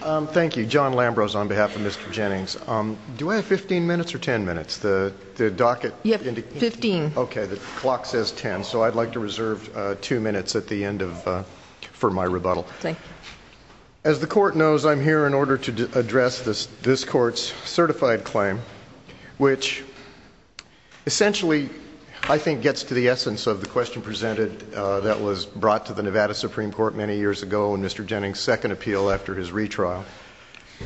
Thank you, John Lambros on behalf of Mr. Jennings. Do I have 15 minutes or 10 minutes? The docket indicates 15. OK, the clock says 10. So I'd like to reserve two minutes at the end for my rebuttal. As the court knows, I'm here in order to address this court's certified claim, which essentially, I think, gets to the essence of the question presented that was brought to the Nevada Supreme Court many years ago in Mr. Jennings' second appeal after his retrial,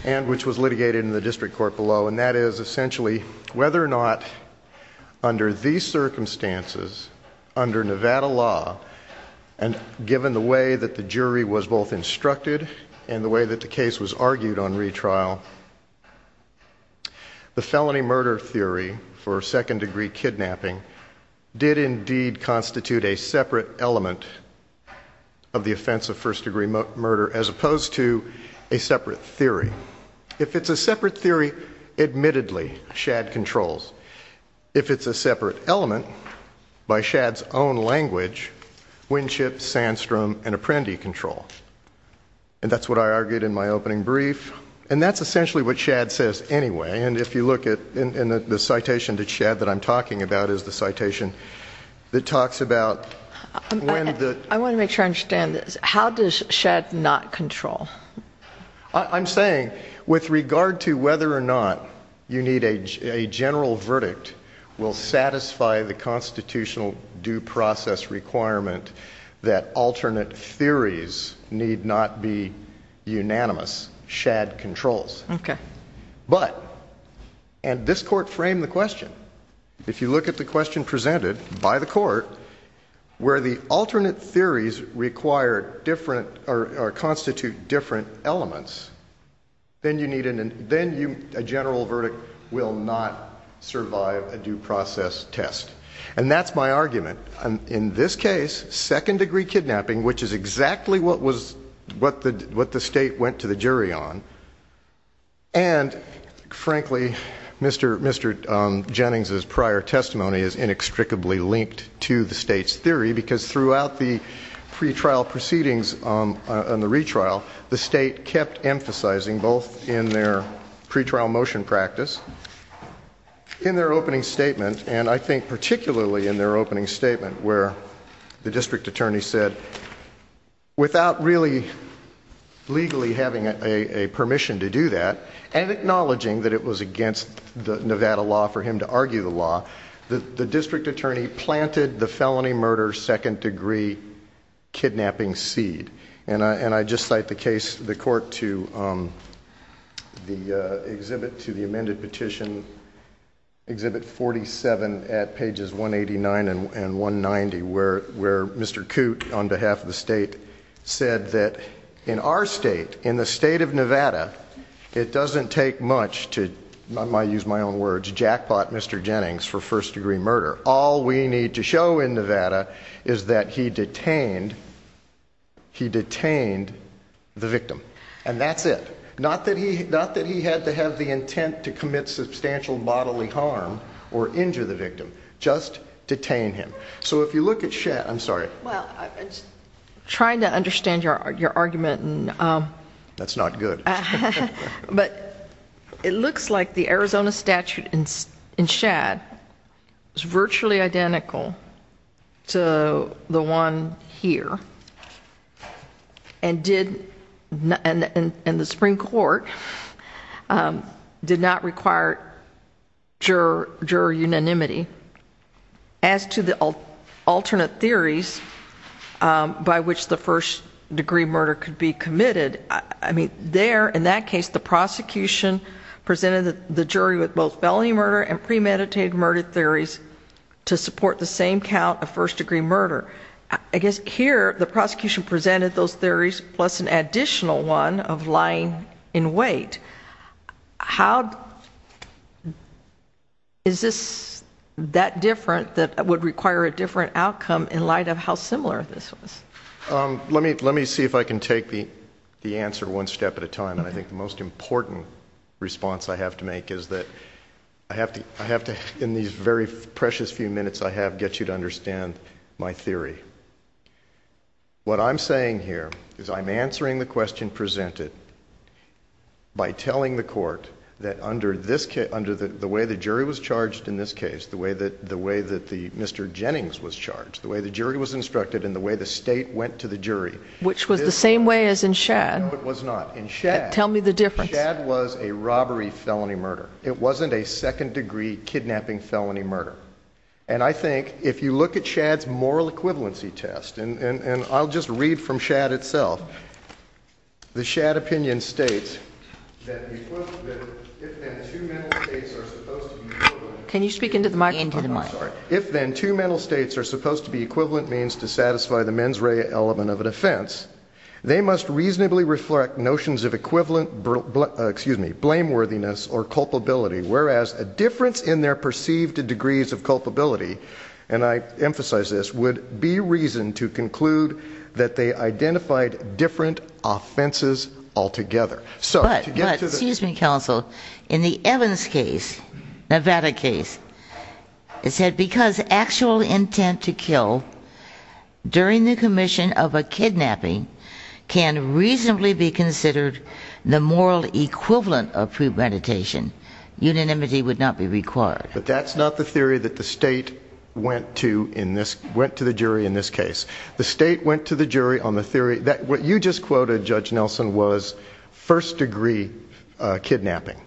and which was litigated in the district court below. And that is, essentially, whether or not under these circumstances, under Nevada law, and given the way that the jury was both instructed and the way that the case was argued on retrial, the felony murder theory for second degree kidnapping did indeed constitute a separate element of the offense of first degree murder, as opposed to a separate theory. If it's a separate theory, admittedly, Shadd controls. If it's a separate element, by Shadd's own language, Winship, Sandstrom, and Apprendi control. And that's what I argued in my opening brief. And that's essentially what Shadd says anyway. And if you look at the citation that Shadd that I'm talking about is the citation that talks about when the- I want to make sure I understand this. How does Shadd not control? I'm saying, with regard to whether or not you need a general verdict will satisfy the constitutional due process requirement that alternate theories need not be unanimous, Shadd controls. But, and this court framed the question, if you look at the question presented by the court, where the alternate theories require different or constitute different elements, then a general verdict will not survive a due process test. And that's my argument. In this case, second degree kidnapping, which is exactly what the state went to the jury on, and frankly, Mr. Jennings' prior testimony is inextricably linked to the state's theory, because throughout the pretrial proceedings on the retrial, the state kept emphasizing, both in their pretrial motion practice, in their opening statement, and I think particularly in their opening statement, where the district attorney said, without really legally having a permission to do that, and acknowledging that it was against the Nevada law for him to argue the law, the district attorney planted the felony murder second degree kidnapping seed. And I just cite the case, the court to the amended petition, exhibit 47, at pages 189 and 190, where Mr. Coote, on behalf of the state, said that in our state, in the state of Nevada, it doesn't take much to, I might use my own words, jackpot Mr. Jennings for first degree murder. All we need to show in Nevada is that he detained the victim. And that's it. Not that he had to have the intent to commit substantial bodily harm or injure the victim, just detain him. So if you look at Shett, I'm sorry. Well, I'm just trying to understand your argument. That's not good. But it looks like the Arizona statute in Shadd is virtually identical to the one here, and the Supreme Court did not require juror unanimity. As to the alternate theories by which the first degree murder could be committed, I mean, there, in that case, the prosecution presented the jury with both felony murder and premeditated murder theories to support the same count of first degree murder. I guess here, the prosecution presented those theories plus an additional one of lying in wait. How is this that different that would require a different outcome in light of how similar this was? Let me see if I can take the answer one step at a time. And I think the most important response I have to make is that I have to, in these very precious few minutes I have, get you to understand my theory. What I'm saying here is I'm answering the question presented by telling the court that under the way the jury was charged in this case, the way that Mr. Jennings was charged, the way the jury was instructed, and the way the state went to the jury. Which was the same way as in Shadd. No, it was not. In Shadd. Tell me the difference. Shadd was a robbery felony murder. It wasn't a second degree kidnapping felony murder. And I think, if you look at Shadd's moral equivalency test, and I'll just read from Shadd itself, the Shadd opinion states that if then two mental states are supposed to be murdered. Can you speak into the microphone? Into the mic. If then two mental states are supposed to be equivalent means to satisfy the mens rea element of an offense, they must reasonably reflect notions of equivalent blameworthiness or culpability, whereas a difference in their perceived degrees of culpability, and I emphasize this, would be reason to conclude that they identified different offenses altogether. But, excuse me, counsel, in the Evans case, Nevada case, it said because actual intent to kill during the commission of a kidnapping can reasonably be considered the moral equivalent of premeditation, unanimity would not be required. But that's not the theory that the state went to in this, went to the jury in this case. The state went to the jury on the theory that what you just quoted, Judge Nelson, was first degree kidnapping.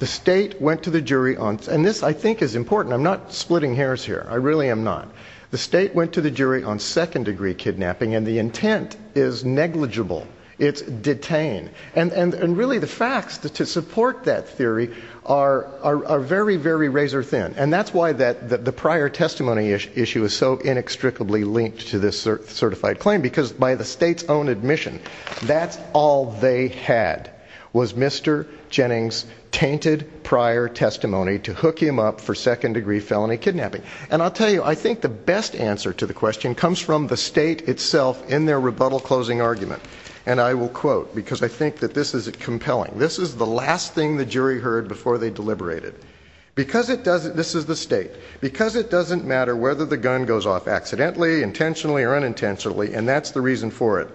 The state went to the jury on, and this, I think, is important, I'm not splitting hairs here, I really am not. The state went to the jury on second degree kidnapping, and the intent is negligible, it's detained. And really, the facts to support that theory are very, very razor thin. And that's why the prior testimony issue is so inextricably linked to this certified claim, because by the state's own admission, that's all they had was Mr. Jennings' tainted prior testimony to hook him up for second degree felony kidnapping. And I'll tell you, I think the best answer to the question comes from the state itself in their rebuttal closing argument. And I will quote, because I think that this is compelling. This is the last thing the jury heard before they deliberated. Because it doesn't, this is the state. Because it doesn't matter whether the gun goes off accidentally, intentionally, or unintentionally, and that's the reason for it.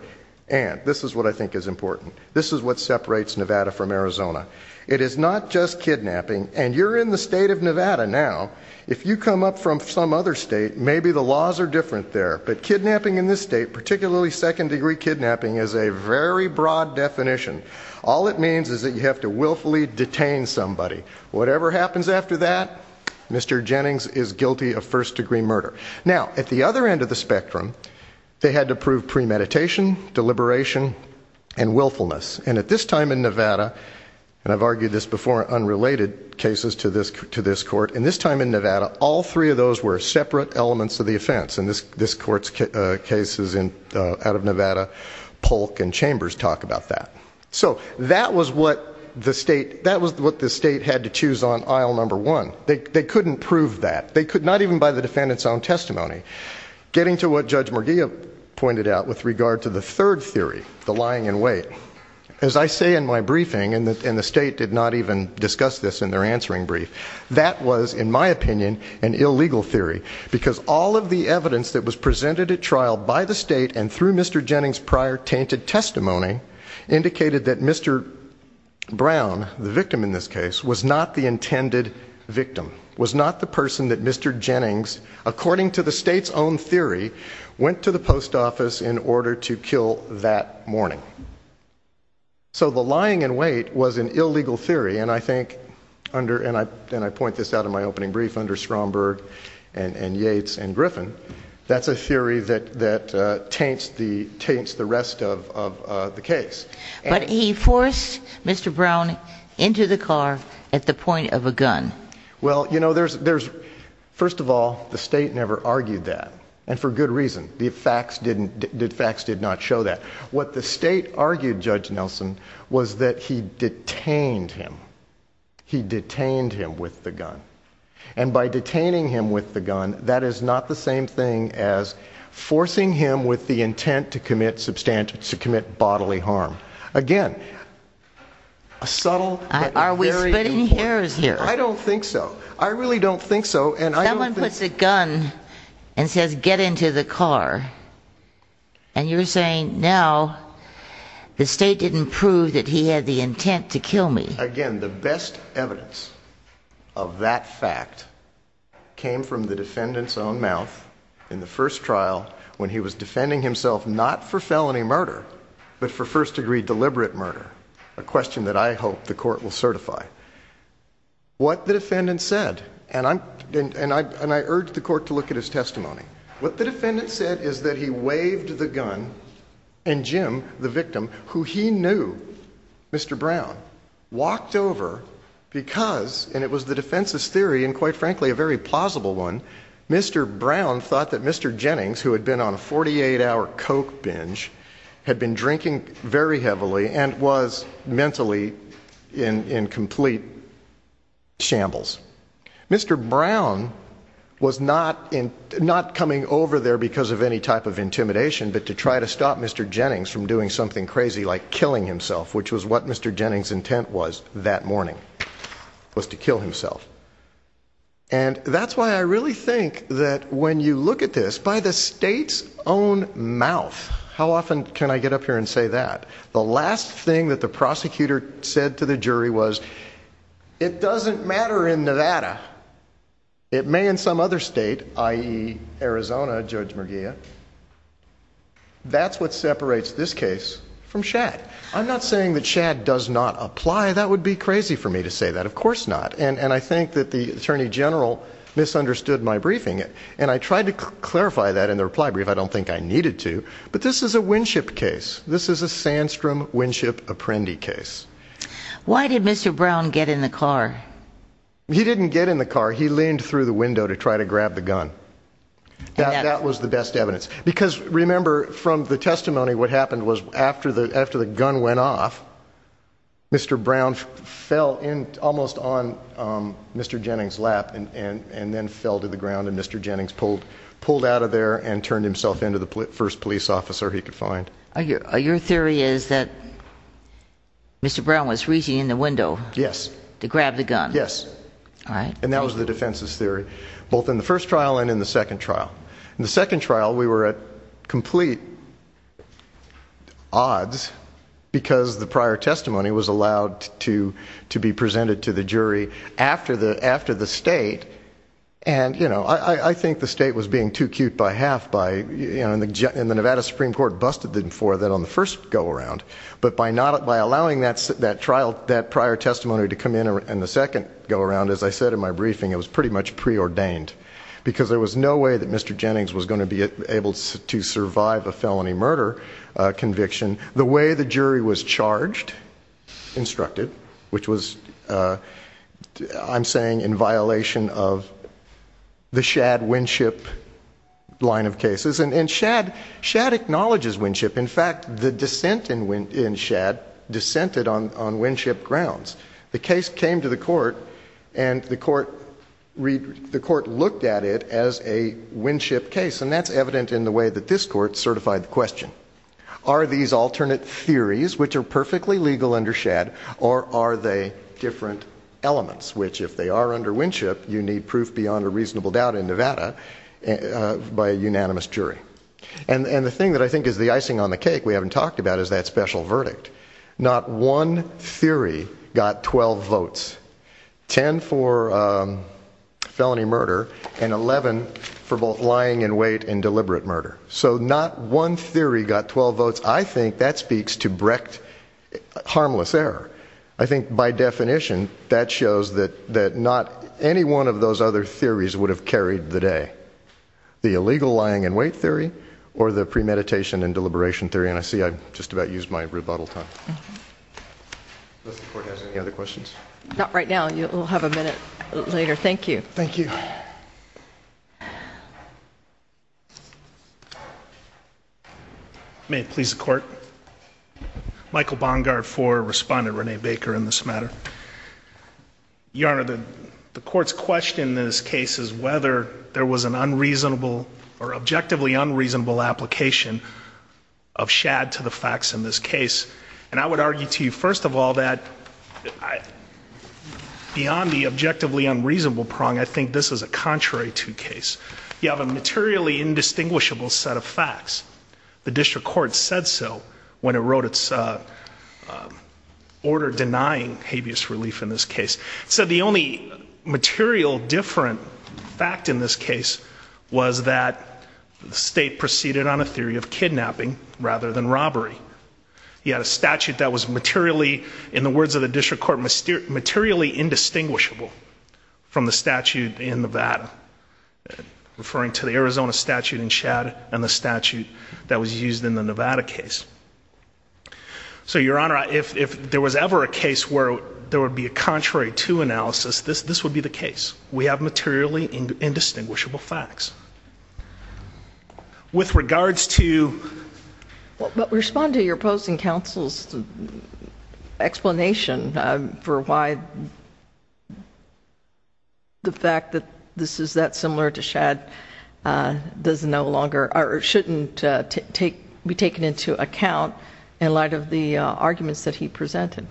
And this is what I think is important. This is what separates Nevada from Arizona. It is not just kidnapping. And you're in the state of Nevada now. If you come up from some other state, maybe the laws are different there. But kidnapping in this state, particularly second degree kidnapping, is a very broad definition. All it means is that you have to willfully detain somebody. Whatever happens after that, Mr. Jennings is guilty of first degree murder. Now, at the other end of the spectrum, they had to prove premeditation, deliberation, and willfulness. And at this time in Nevada, and I've argued this before, unrelated cases to this court. And this time in Nevada, all three of those were separate elements of the offense. And this court's cases out of Nevada, Polk and Chambers talk about that. So that was what the state, that was what the state had to choose on aisle number one. They couldn't prove that. They could not even by the defendant's own testimony. Getting to what Judge Murguia pointed out with regard to the third theory, the lying in wait. As I say in my briefing, and the state did not even discuss this in their answering brief, that was, in my opinion, an illegal theory. Because all of the evidence that was presented at trial by the state and through Mr. Jennings' prior tainted testimony, indicated that Mr. Brown, the victim in this case, was not the intended victim. Was not the person that Mr. Jennings, according to the state's own theory, went to the post office in order to kill that morning. So the lying in wait was an illegal theory. And I think, and I point this out in my opening brief, under Stromberg and Yates and Griffin, that's a theory that taints the rest of the case. But he forced Mr. Brown into the car at the point of a gun. Well, you know, there's, first of all, the state never argued that. And for good reason. The facts did not show that. What the state argued, Judge Nelson, was that he detained him. He detained him with the gun. And by detaining him with the gun, that is not the same thing as forcing him with the intent to commit bodily harm. Again, a subtle, but very important. Are we splitting hairs here? I don't think so. I really don't think so. And I don't think. He puts a gun and says, get into the car. And you're saying, now the state didn't prove that he had the intent to kill me. Again, the best evidence of that fact came from the defendant's own mouth in the first trial, when he was defending himself, not for felony murder, but for first degree deliberate murder. A question that I hope the court will certify. What the defendant said, and I urge the court to look at his testimony. What the defendant said is that he waved the gun, and Jim, the victim, who he knew, Mr. Brown, walked over because, and it was the defense's theory, and quite frankly, a very plausible one, Mr. Brown thought that Mr. Jennings, who had been on a 48-hour Coke binge, had been drinking very heavily and was mentally in complete shambles. Mr. Brown was not coming over there because of any type of intimidation, but to try to stop Mr. Jennings from doing something crazy like killing himself, which was what Mr. Jennings' intent was that morning, was to kill himself. And that's why I really think that when you look at this, by the state's own mouth, how often can I get up here and say that? The last thing that the prosecutor said to the jury was, it doesn't matter in Nevada. It may in some other state, i.e. Arizona, Judge Merguia. That's what separates this case from Schad. I'm not saying that Schad does not apply. That would be crazy for me to say that. Of course not. And I think that the attorney general misunderstood my briefing, and I tried to clarify that in the reply brief. I don't think I needed to. But this is a Winship case. This is a Sandstrom-Winship-Apprendi case. Why did Mr. Brown get in the car? He didn't get in the car. He leaned through the window to try to grab the gun. That was the best evidence. Because remember, from the testimony, what happened was after the gun went off, Mr. Brown fell almost on Mr. Jennings' lap and then fell to the ground, and Mr. Jennings pulled out of there and turned himself into the first police officer he could find. Your theory is that Mr. Brown was reaching in the window to grab the gun. Yes. And that was the defense's theory, both in the first trial and in the second trial. In the second trial, we were at complete odds because the prior testimony was allowed to be presented to the jury after the state. And I think the state was being too cute by half. And the Nevada Supreme Court busted them for that on the first go-around. But by allowing that prior testimony to come in in the second go-around, as I said in my briefing, it was pretty much preordained because there was no way that Mr. Jennings was gonna be able to survive a felony murder conviction. The way the jury was charged, instructed, which was, I'm saying, in violation of the Shad-Winship line of cases. And Shad acknowledges Winship. In fact, the dissent in Shad dissented on Winship grounds. The case came to the court and the court looked at it as a Winship case. And that's evident in the way that this court certified the question. Are these alternate theories, which are perfectly legal under Shad, or are they different elements? Which, if they are under Winship, you need proof beyond a reasonable doubt in Nevada by a unanimous jury. And the thing that I think is the icing on the cake we haven't talked about is that special verdict. Not one theory got 12 votes. 10 for felony murder, and 11 for both lying in wait and deliberate murder. So not one theory got 12 votes. I think that speaks to brecht harmless error. I think, by definition, that shows that not any one of those other theories would have carried the day. The illegal lying in wait theory or the premeditation and deliberation theory. And I see I've just about used my rebuttal time. Does the court have any other questions? Not right now. We'll have a minute later. Thank you. Thank you. May it please the court. Michael Bongard for Respondent Renee Baker in this matter. Your Honor, the court's question in this case is whether there was an unreasonable or objectively unreasonable application of shad to the facts in this case. And I would argue to you, first of all, that beyond the objectively unreasonable prong, I think this is a contrary to case. You have a materially indistinguishable set of facts. The district court said so when it wrote its order denying habeas relief in this case. So the only material different fact in this case was that the state proceeded on a theory of kidnapping rather than robbery. He had a statute that was materially, in the words of the district court, materially indistinguishable from the statute in Nevada, referring to the Arizona statute in shad and the statute that was used in the Nevada case. So, Your Honor, if there was ever a case where there would be a contrary to analysis, this would be the case. We have materially indistinguishable facts. With regards to- But respond to your opposing counsel's explanation for why the fact that this is that similar to shad does no longer, or shouldn't be taken into account in light of the arguments that he presented.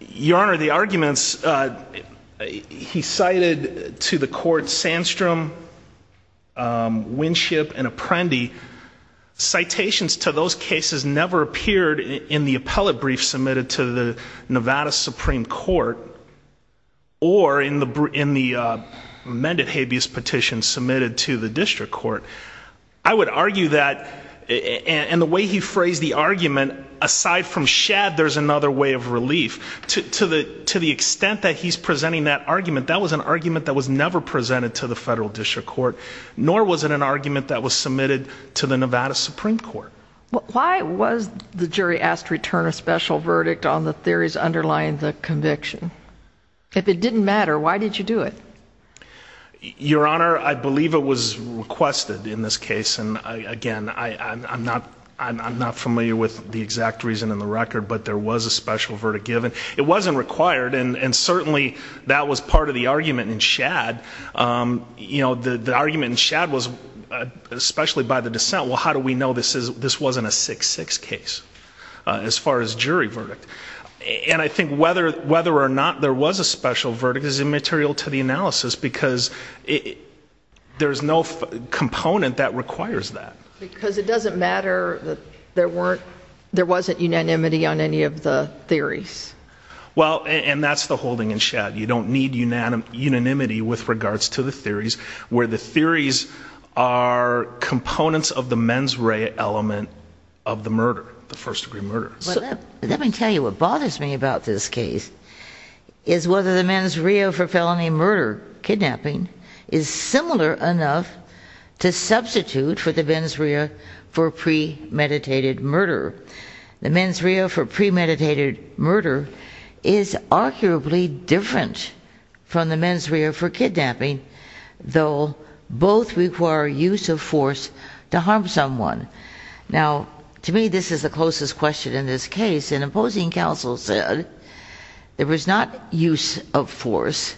Your Honor, the arguments he cited to the court, Sandstrom, Winship, and Apprendi, citations to those cases never appeared in the appellate brief submitted to the Nevada Supreme Court or in the amended habeas petition submitted to the district court. Aside from shad, there's another way of relief. To the extent that he's presenting that argument, that was an argument that was never presented to the federal district court, nor was it an argument that was submitted to the Nevada Supreme Court. Why was the jury asked to return a special verdict on the theories underlying the conviction? If it didn't matter, why did you do it? Your Honor, I believe it was requested in this case, and again, I'm not familiar with the exact reason in the record, but there was a special verdict given. It wasn't required, and certainly, that was part of the argument in shad. The argument in shad was, especially by the dissent, well, how do we know this wasn't a 6-6 case as far as jury verdict? And I think whether or not there was a special verdict is immaterial to the analysis because there's no component that requires that. Because it doesn't matter that there weren't, there wasn't unanimity on any of the theories. Well, and that's the holding in shad. You don't need unanimity with regards to the theories where the theories are components of the mens rea element of the murder, the first degree murder. Let me tell you what bothers me about this case is whether the mens rea for felony murder kidnapping is similar enough to substitute for the mens rea for premeditated murder. The mens rea for premeditated murder is arguably different from the mens rea for kidnapping, though both require use of force to harm someone. Now, to me, this is the closest question in this case, and opposing counsel said there was not use of force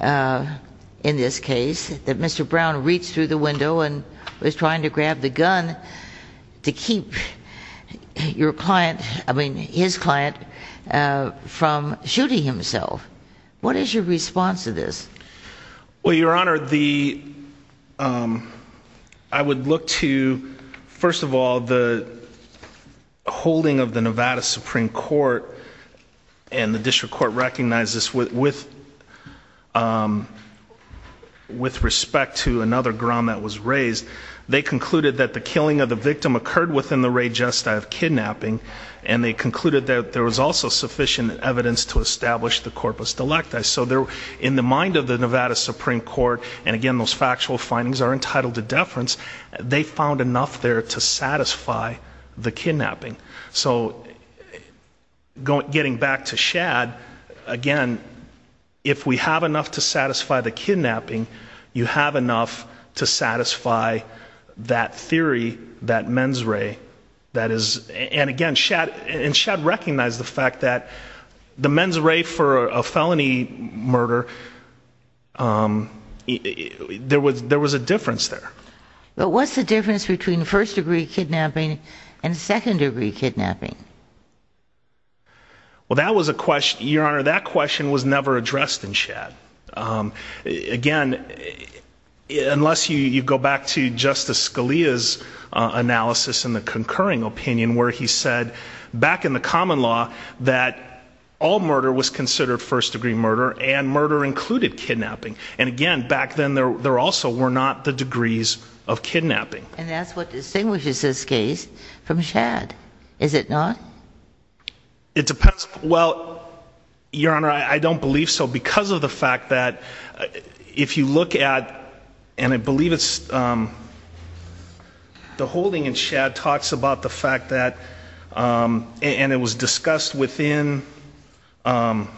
in this case, that Mr. Brown reached through the window and was trying to grab the gun to keep your client, I mean, his client from shooting himself. What is your response to this? Well, Your Honor, I would look to, first of all, the holding of the Nevada Supreme Court and the district court recognized this with respect to another ground that was raised. They concluded that the killing of the victim occurred within the rea gestae of kidnapping, and they concluded that there was also sufficient evidence to establish the corpus delecti. So in the mind of the Nevada Supreme Court, and again, those factual findings are entitled to deference, they found enough there to satisfy the kidnapping. So getting back to Shad, again, if we have enough to satisfy the kidnapping, you have enough to satisfy that theory, that mens rea, that is, and again, Shad recognized the fact that the mens rea for a felony murder, there was a difference there. But what's the difference between first degree kidnapping and second degree kidnapping? Well, that was a question, Your Honor, that question was never addressed in Shad. Again, unless you go back to Justice Scalia's analysis in the concurring opinion, where he said, back in the common law, that all murder was considered first degree murder, and murder included kidnapping. And again, back then, there also were not the degrees of kidnapping. And that's what distinguishes this case from Shad, is it not? It depends, well, Your Honor, I don't believe so, because of the fact that if you look at, and I believe it's, the holding in Shad talks about the fact that, and it was discussed within, um,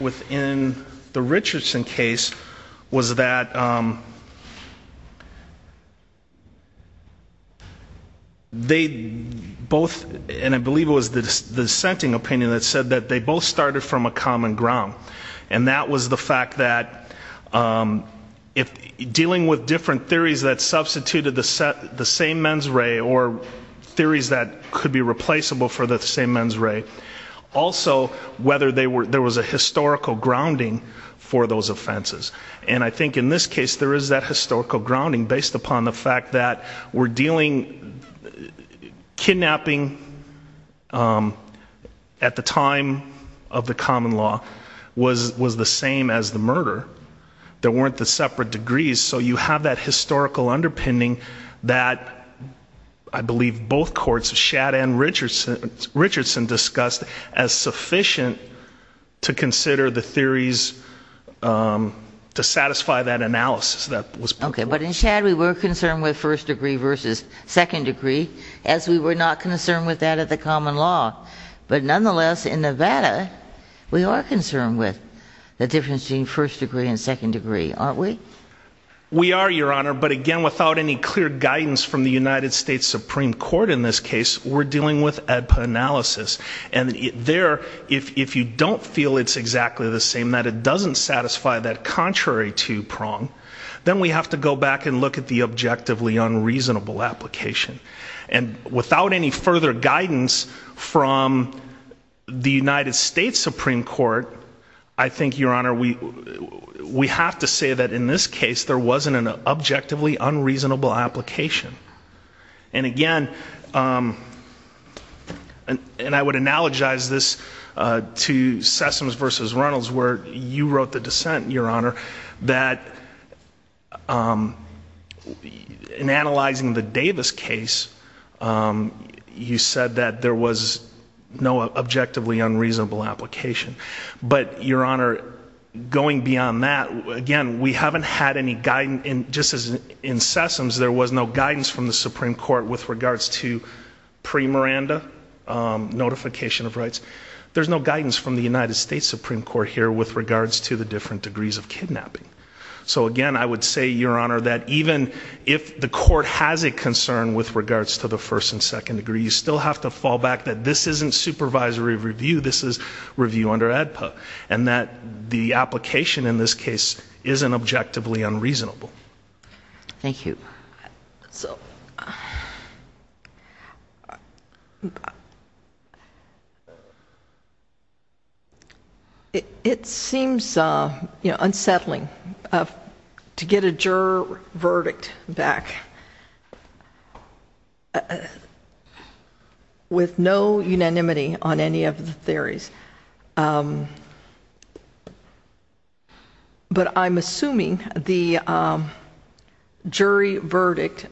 within the Richardson case, was that, um, they both, and I believe it was the dissenting opinion that said that they both started from a common ground. And that was the fact that, um, if dealing with different theories that substituted the same mens rea, or theories that could be replaceable for the same mens rea, also, whether they were, there was a historical grounding for those offenses. And I think in this case, there is that historical grounding based upon the fact that we're dealing, kidnapping, um, at the time of the common law was the same as the murder. There weren't the separate degrees, so you have that historical underpinning that I believe both courts, Shad and Richardson, Richardson discussed as sufficient to consider the theories, um, to satisfy that analysis that was put forth. Okay, but in Shad, we were concerned with first degree versus second degree, as we were not concerned with that at the common law. But nonetheless, in Nevada, we are concerned with the difference between first degree and second degree, aren't we? We are, Your Honor, but again, without any clear guidance from the United States Supreme Court in this case, we're dealing with ADPA analysis, and there, if you don't feel it's exactly the same, that it doesn't satisfy that contrary to prong, then we have to go back and look at the objectively unreasonable application. And without any further guidance from the United States Supreme Court, I think, Your Honor, we have to say that in this case, there wasn't an objectively unreasonable application. And again, um, and I would analogize this to Sessoms versus Reynolds, where you wrote the dissent, Your Honor, that, um, in analyzing the Davis case, you said that there was no objectively unreasonable application. But, Your Honor, going beyond that, again, we haven't had any guidance, just as in Sessoms, there was no guidance from the Supreme Court with regards to pre-Miranda notification of rights, there's no guidance from the United States Supreme Court here with regards to the different degrees of kidnapping. So again, I would say, Your Honor, that even if the court has a concern with regards to the first and second degree, you still have to fall back that this isn't supervisory review, this is review under ADPA. And that the application in this case isn't objectively unreasonable. Thank you. So. It seems unsettling to get a juror verdict back with no unanimity on any of the theories. But I'm assuming the jury verdict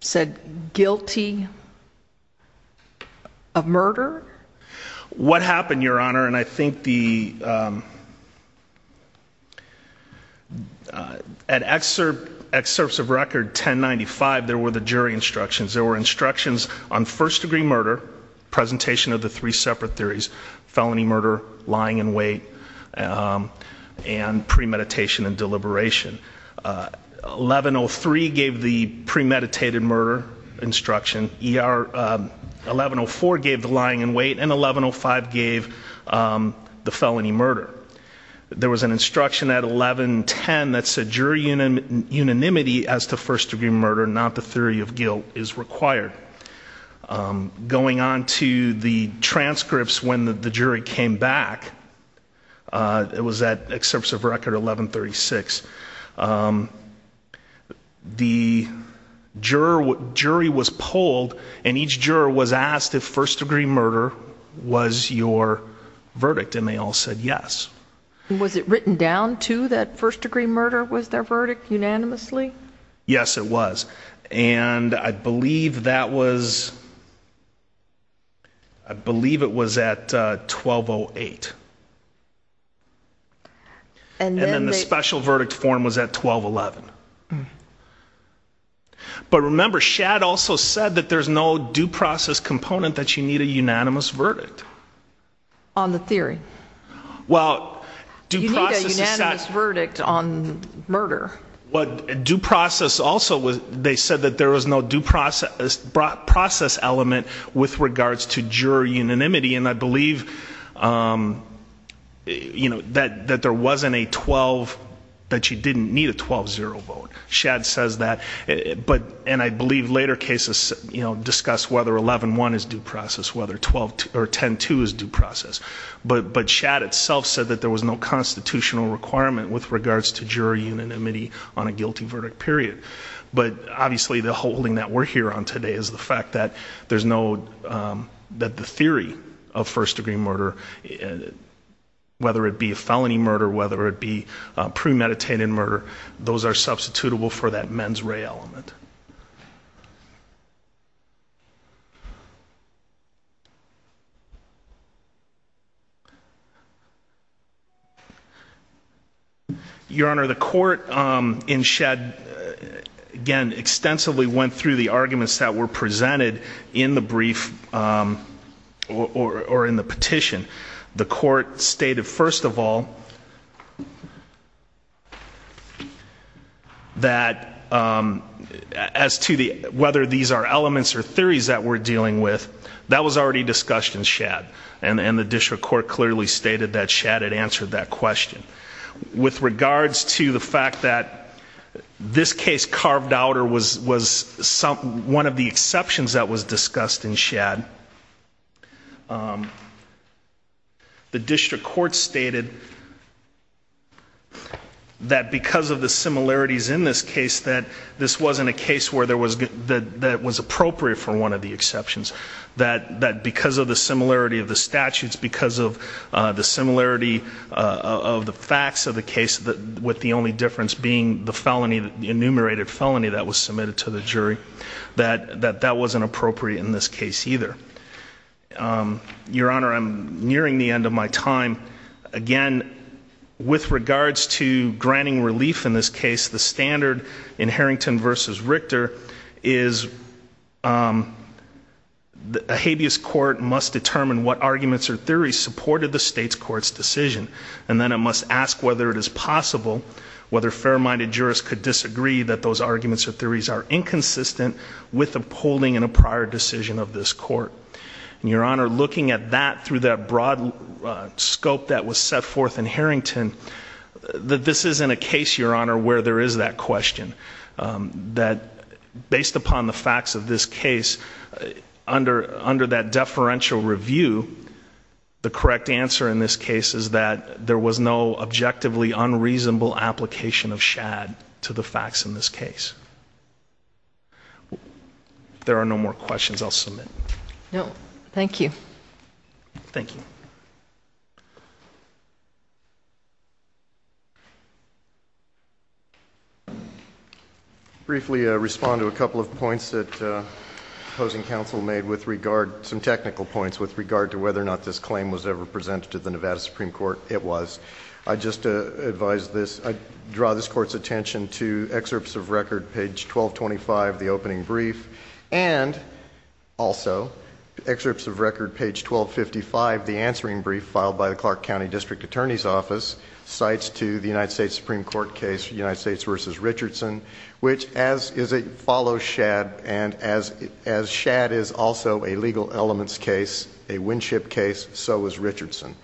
said guilty of murder? What happened, Your Honor, and I think the, at excerpts of record 1095, there were the jury instructions. There were instructions on first degree murder, presentation of the three separate theories, felony murder, lying in wait, and premeditation and deliberation. 1103 gave the premeditated murder instruction. 1104 gave the lying in wait, and 1105 gave the felony murder. There was an instruction at 1110 that said jury unanimity as to first degree murder, not the theory of guilt, is required. Going on to the transcripts when the jury came back, it was at excerpts of record 1136. The jury was polled, and each juror was asked if first degree murder was your verdict, and they all said yes. Was it written down, too, that first degree murder was their verdict unanimously? Yes, it was. And I believe that was, I believe it was at 1208. And then the special verdict form was at 1211. But remember, Shadd also said that there's no due process component that you need a unanimous verdict. On the theory. Well, due process is such. You need a unanimous verdict on murder. What due process also was, they said that there was no due process element with regards to jury unanimity, and I believe that there wasn't a 12, that you didn't need a 12-0 vote. Shadd says that, and I believe later cases discuss whether 11-1 is due process, whether 10-2 is due process. But Shadd itself said that there was no constitutional requirement with regards to jury unanimity on a guilty verdict period. But obviously the holding that we're here on today is the fact that there's no, that the theory of first degree murder, whether it be a felony murder, whether it be premeditated murder, those are substitutable for that mens rea element. Your Honor, the court in Shadd again extensively went through the arguments that were presented in the brief, or in the petition. The court stated, first of all, The jury had no right to decide as to whether these are elements or theories that we're dealing with. That was already discussed in Shadd, and the district court clearly stated that Shadd had answered that question. With regards to the fact that this case carved out, or was one of the exceptions that was discussed in Shadd, the district court stated that because of the similarities in this case, that this wasn't a case where that was appropriate for one of the exceptions. That because of the similarity of the statutes, because of the similarity of the facts of the case, with the only difference being the enumerated felony that was submitted to the jury, that that wasn't appropriate in this case either. Your Honor, I'm nearing the end of my time. Again, with regards to granting relief in this case, the standard in Harrington versus Richter is a habeas court must determine what arguments or theories supported the state's court's decision, and then it must ask whether it is possible whether fair-minded jurists could disagree that those arguments or theories are inconsistent with the polling in a prior decision of this court. Your Honor, looking at that through that broad scope that was set forth in Harrington, that this isn't a case, Your Honor, where there is that question. That based upon the facts of this case, under that deferential review, the correct answer in this case is that there was no objectively unreasonable application of Shadd to the facts in this case. If there are no more questions, I'll submit. No, thank you. Thank you. Thank you. Briefly respond to a couple of points that opposing counsel made with regard, some technical points with regard to whether or not this claim was ever presented to the Nevada Supreme Court. It was. I just advise this. I draw this court's attention to excerpts of record, page 1225, the opening brief, and also excerpts of record, page 1255, the answering brief filed by cites to the United States Supreme Court case, United States versus Richardson, which as is a follow Shadd, and as Shadd is also a legal elements case, a Winship case, so was Richardson.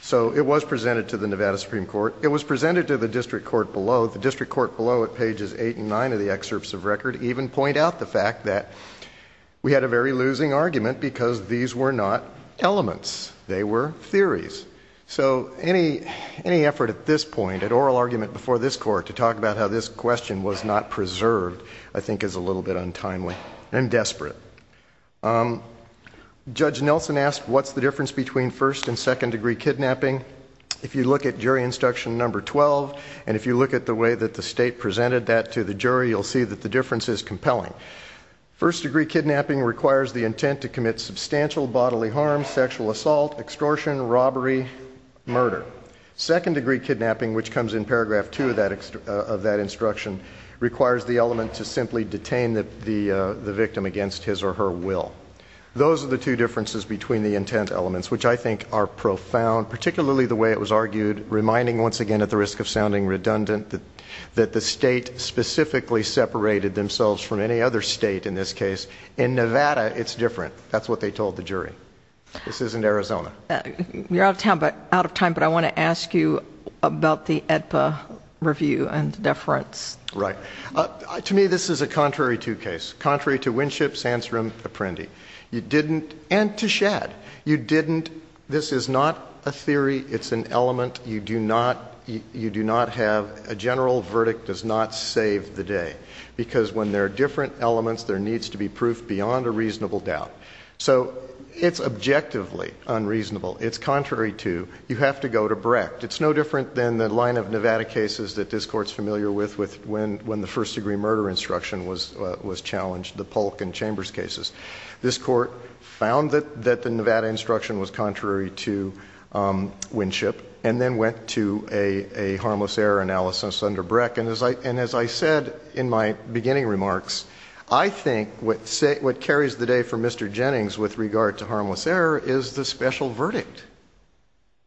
So it was presented to the Nevada Supreme Court. It was presented to the district court below. The district court below at pages eight and nine of the excerpts of record even point out the fact that we had a very losing argument because these were not elements. They were theories. So any effort at this point, at oral argument before this court to talk about how this question was not preserved, I think is a little bit untimely and desperate. Judge Nelson asked, what's the difference between first and second degree kidnapping? If you look at jury instruction number 12, and if you look at the way that the state presented that to the jury, you'll see that the difference is compelling. First degree kidnapping requires the intent to commit substantial bodily harm, sexual assault, extortion, robbery, murder. Second degree kidnapping, which comes in paragraph two of that instruction, requires the element to simply detain the victim against his or her will. Those are the two differences between the intent elements, which I think are profound, particularly the way it was argued, reminding once again, at the risk of sounding redundant, that the state specifically separated themselves from any other state in this case. In Nevada, it's different. That's what they told the jury. This isn't Arizona. You're out of time, but I wanna ask you about the AEDPA review and deference. Right. To me, this is a contrary to case. Contrary to Winship, Sandstrom, Apprendi. You didn't, and to Shadd. You didn't, this is not a theory. It's an element you do not have. A general verdict does not save the day. Because when there are different elements, there needs to be proof beyond a reasonable doubt. So it's objectively unreasonable. It's contrary to, you have to go to Brecht. It's no different than the line of Nevada cases that this court's familiar with when the first degree murder instruction was challenged, the Polk and Chambers cases. This court found that the Nevada instruction was contrary to Winship, and then went to a harmless error analysis under Brecht. And as I said in my beginning remarks, I think what carries the day for Mr. Jennings with regard to harmless error is the special verdict.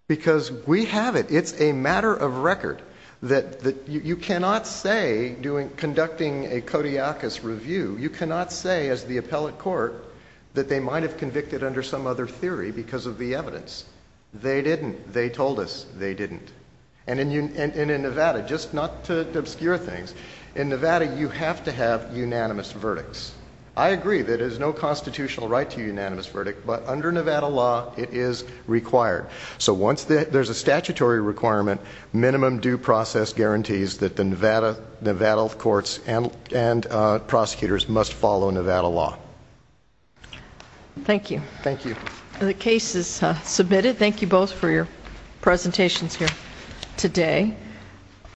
Because we have it. It's a matter of record. That you cannot say, conducting a Kodiakus review, you cannot say as the appellate court that they might have convicted under some other theory because of the evidence. They didn't. They told us they didn't. And in Nevada, just not to obscure things, in Nevada, you have to have unanimous verdicts. I agree that there's no constitutional right to a unanimous verdict, but under Nevada law, it is required. So once there's a statutory requirement, minimum due process guarantees that the Nevada courts and prosecutors must follow Nevada law. Thank you. Thank you. The case is submitted. Thank you both for your presentations here today.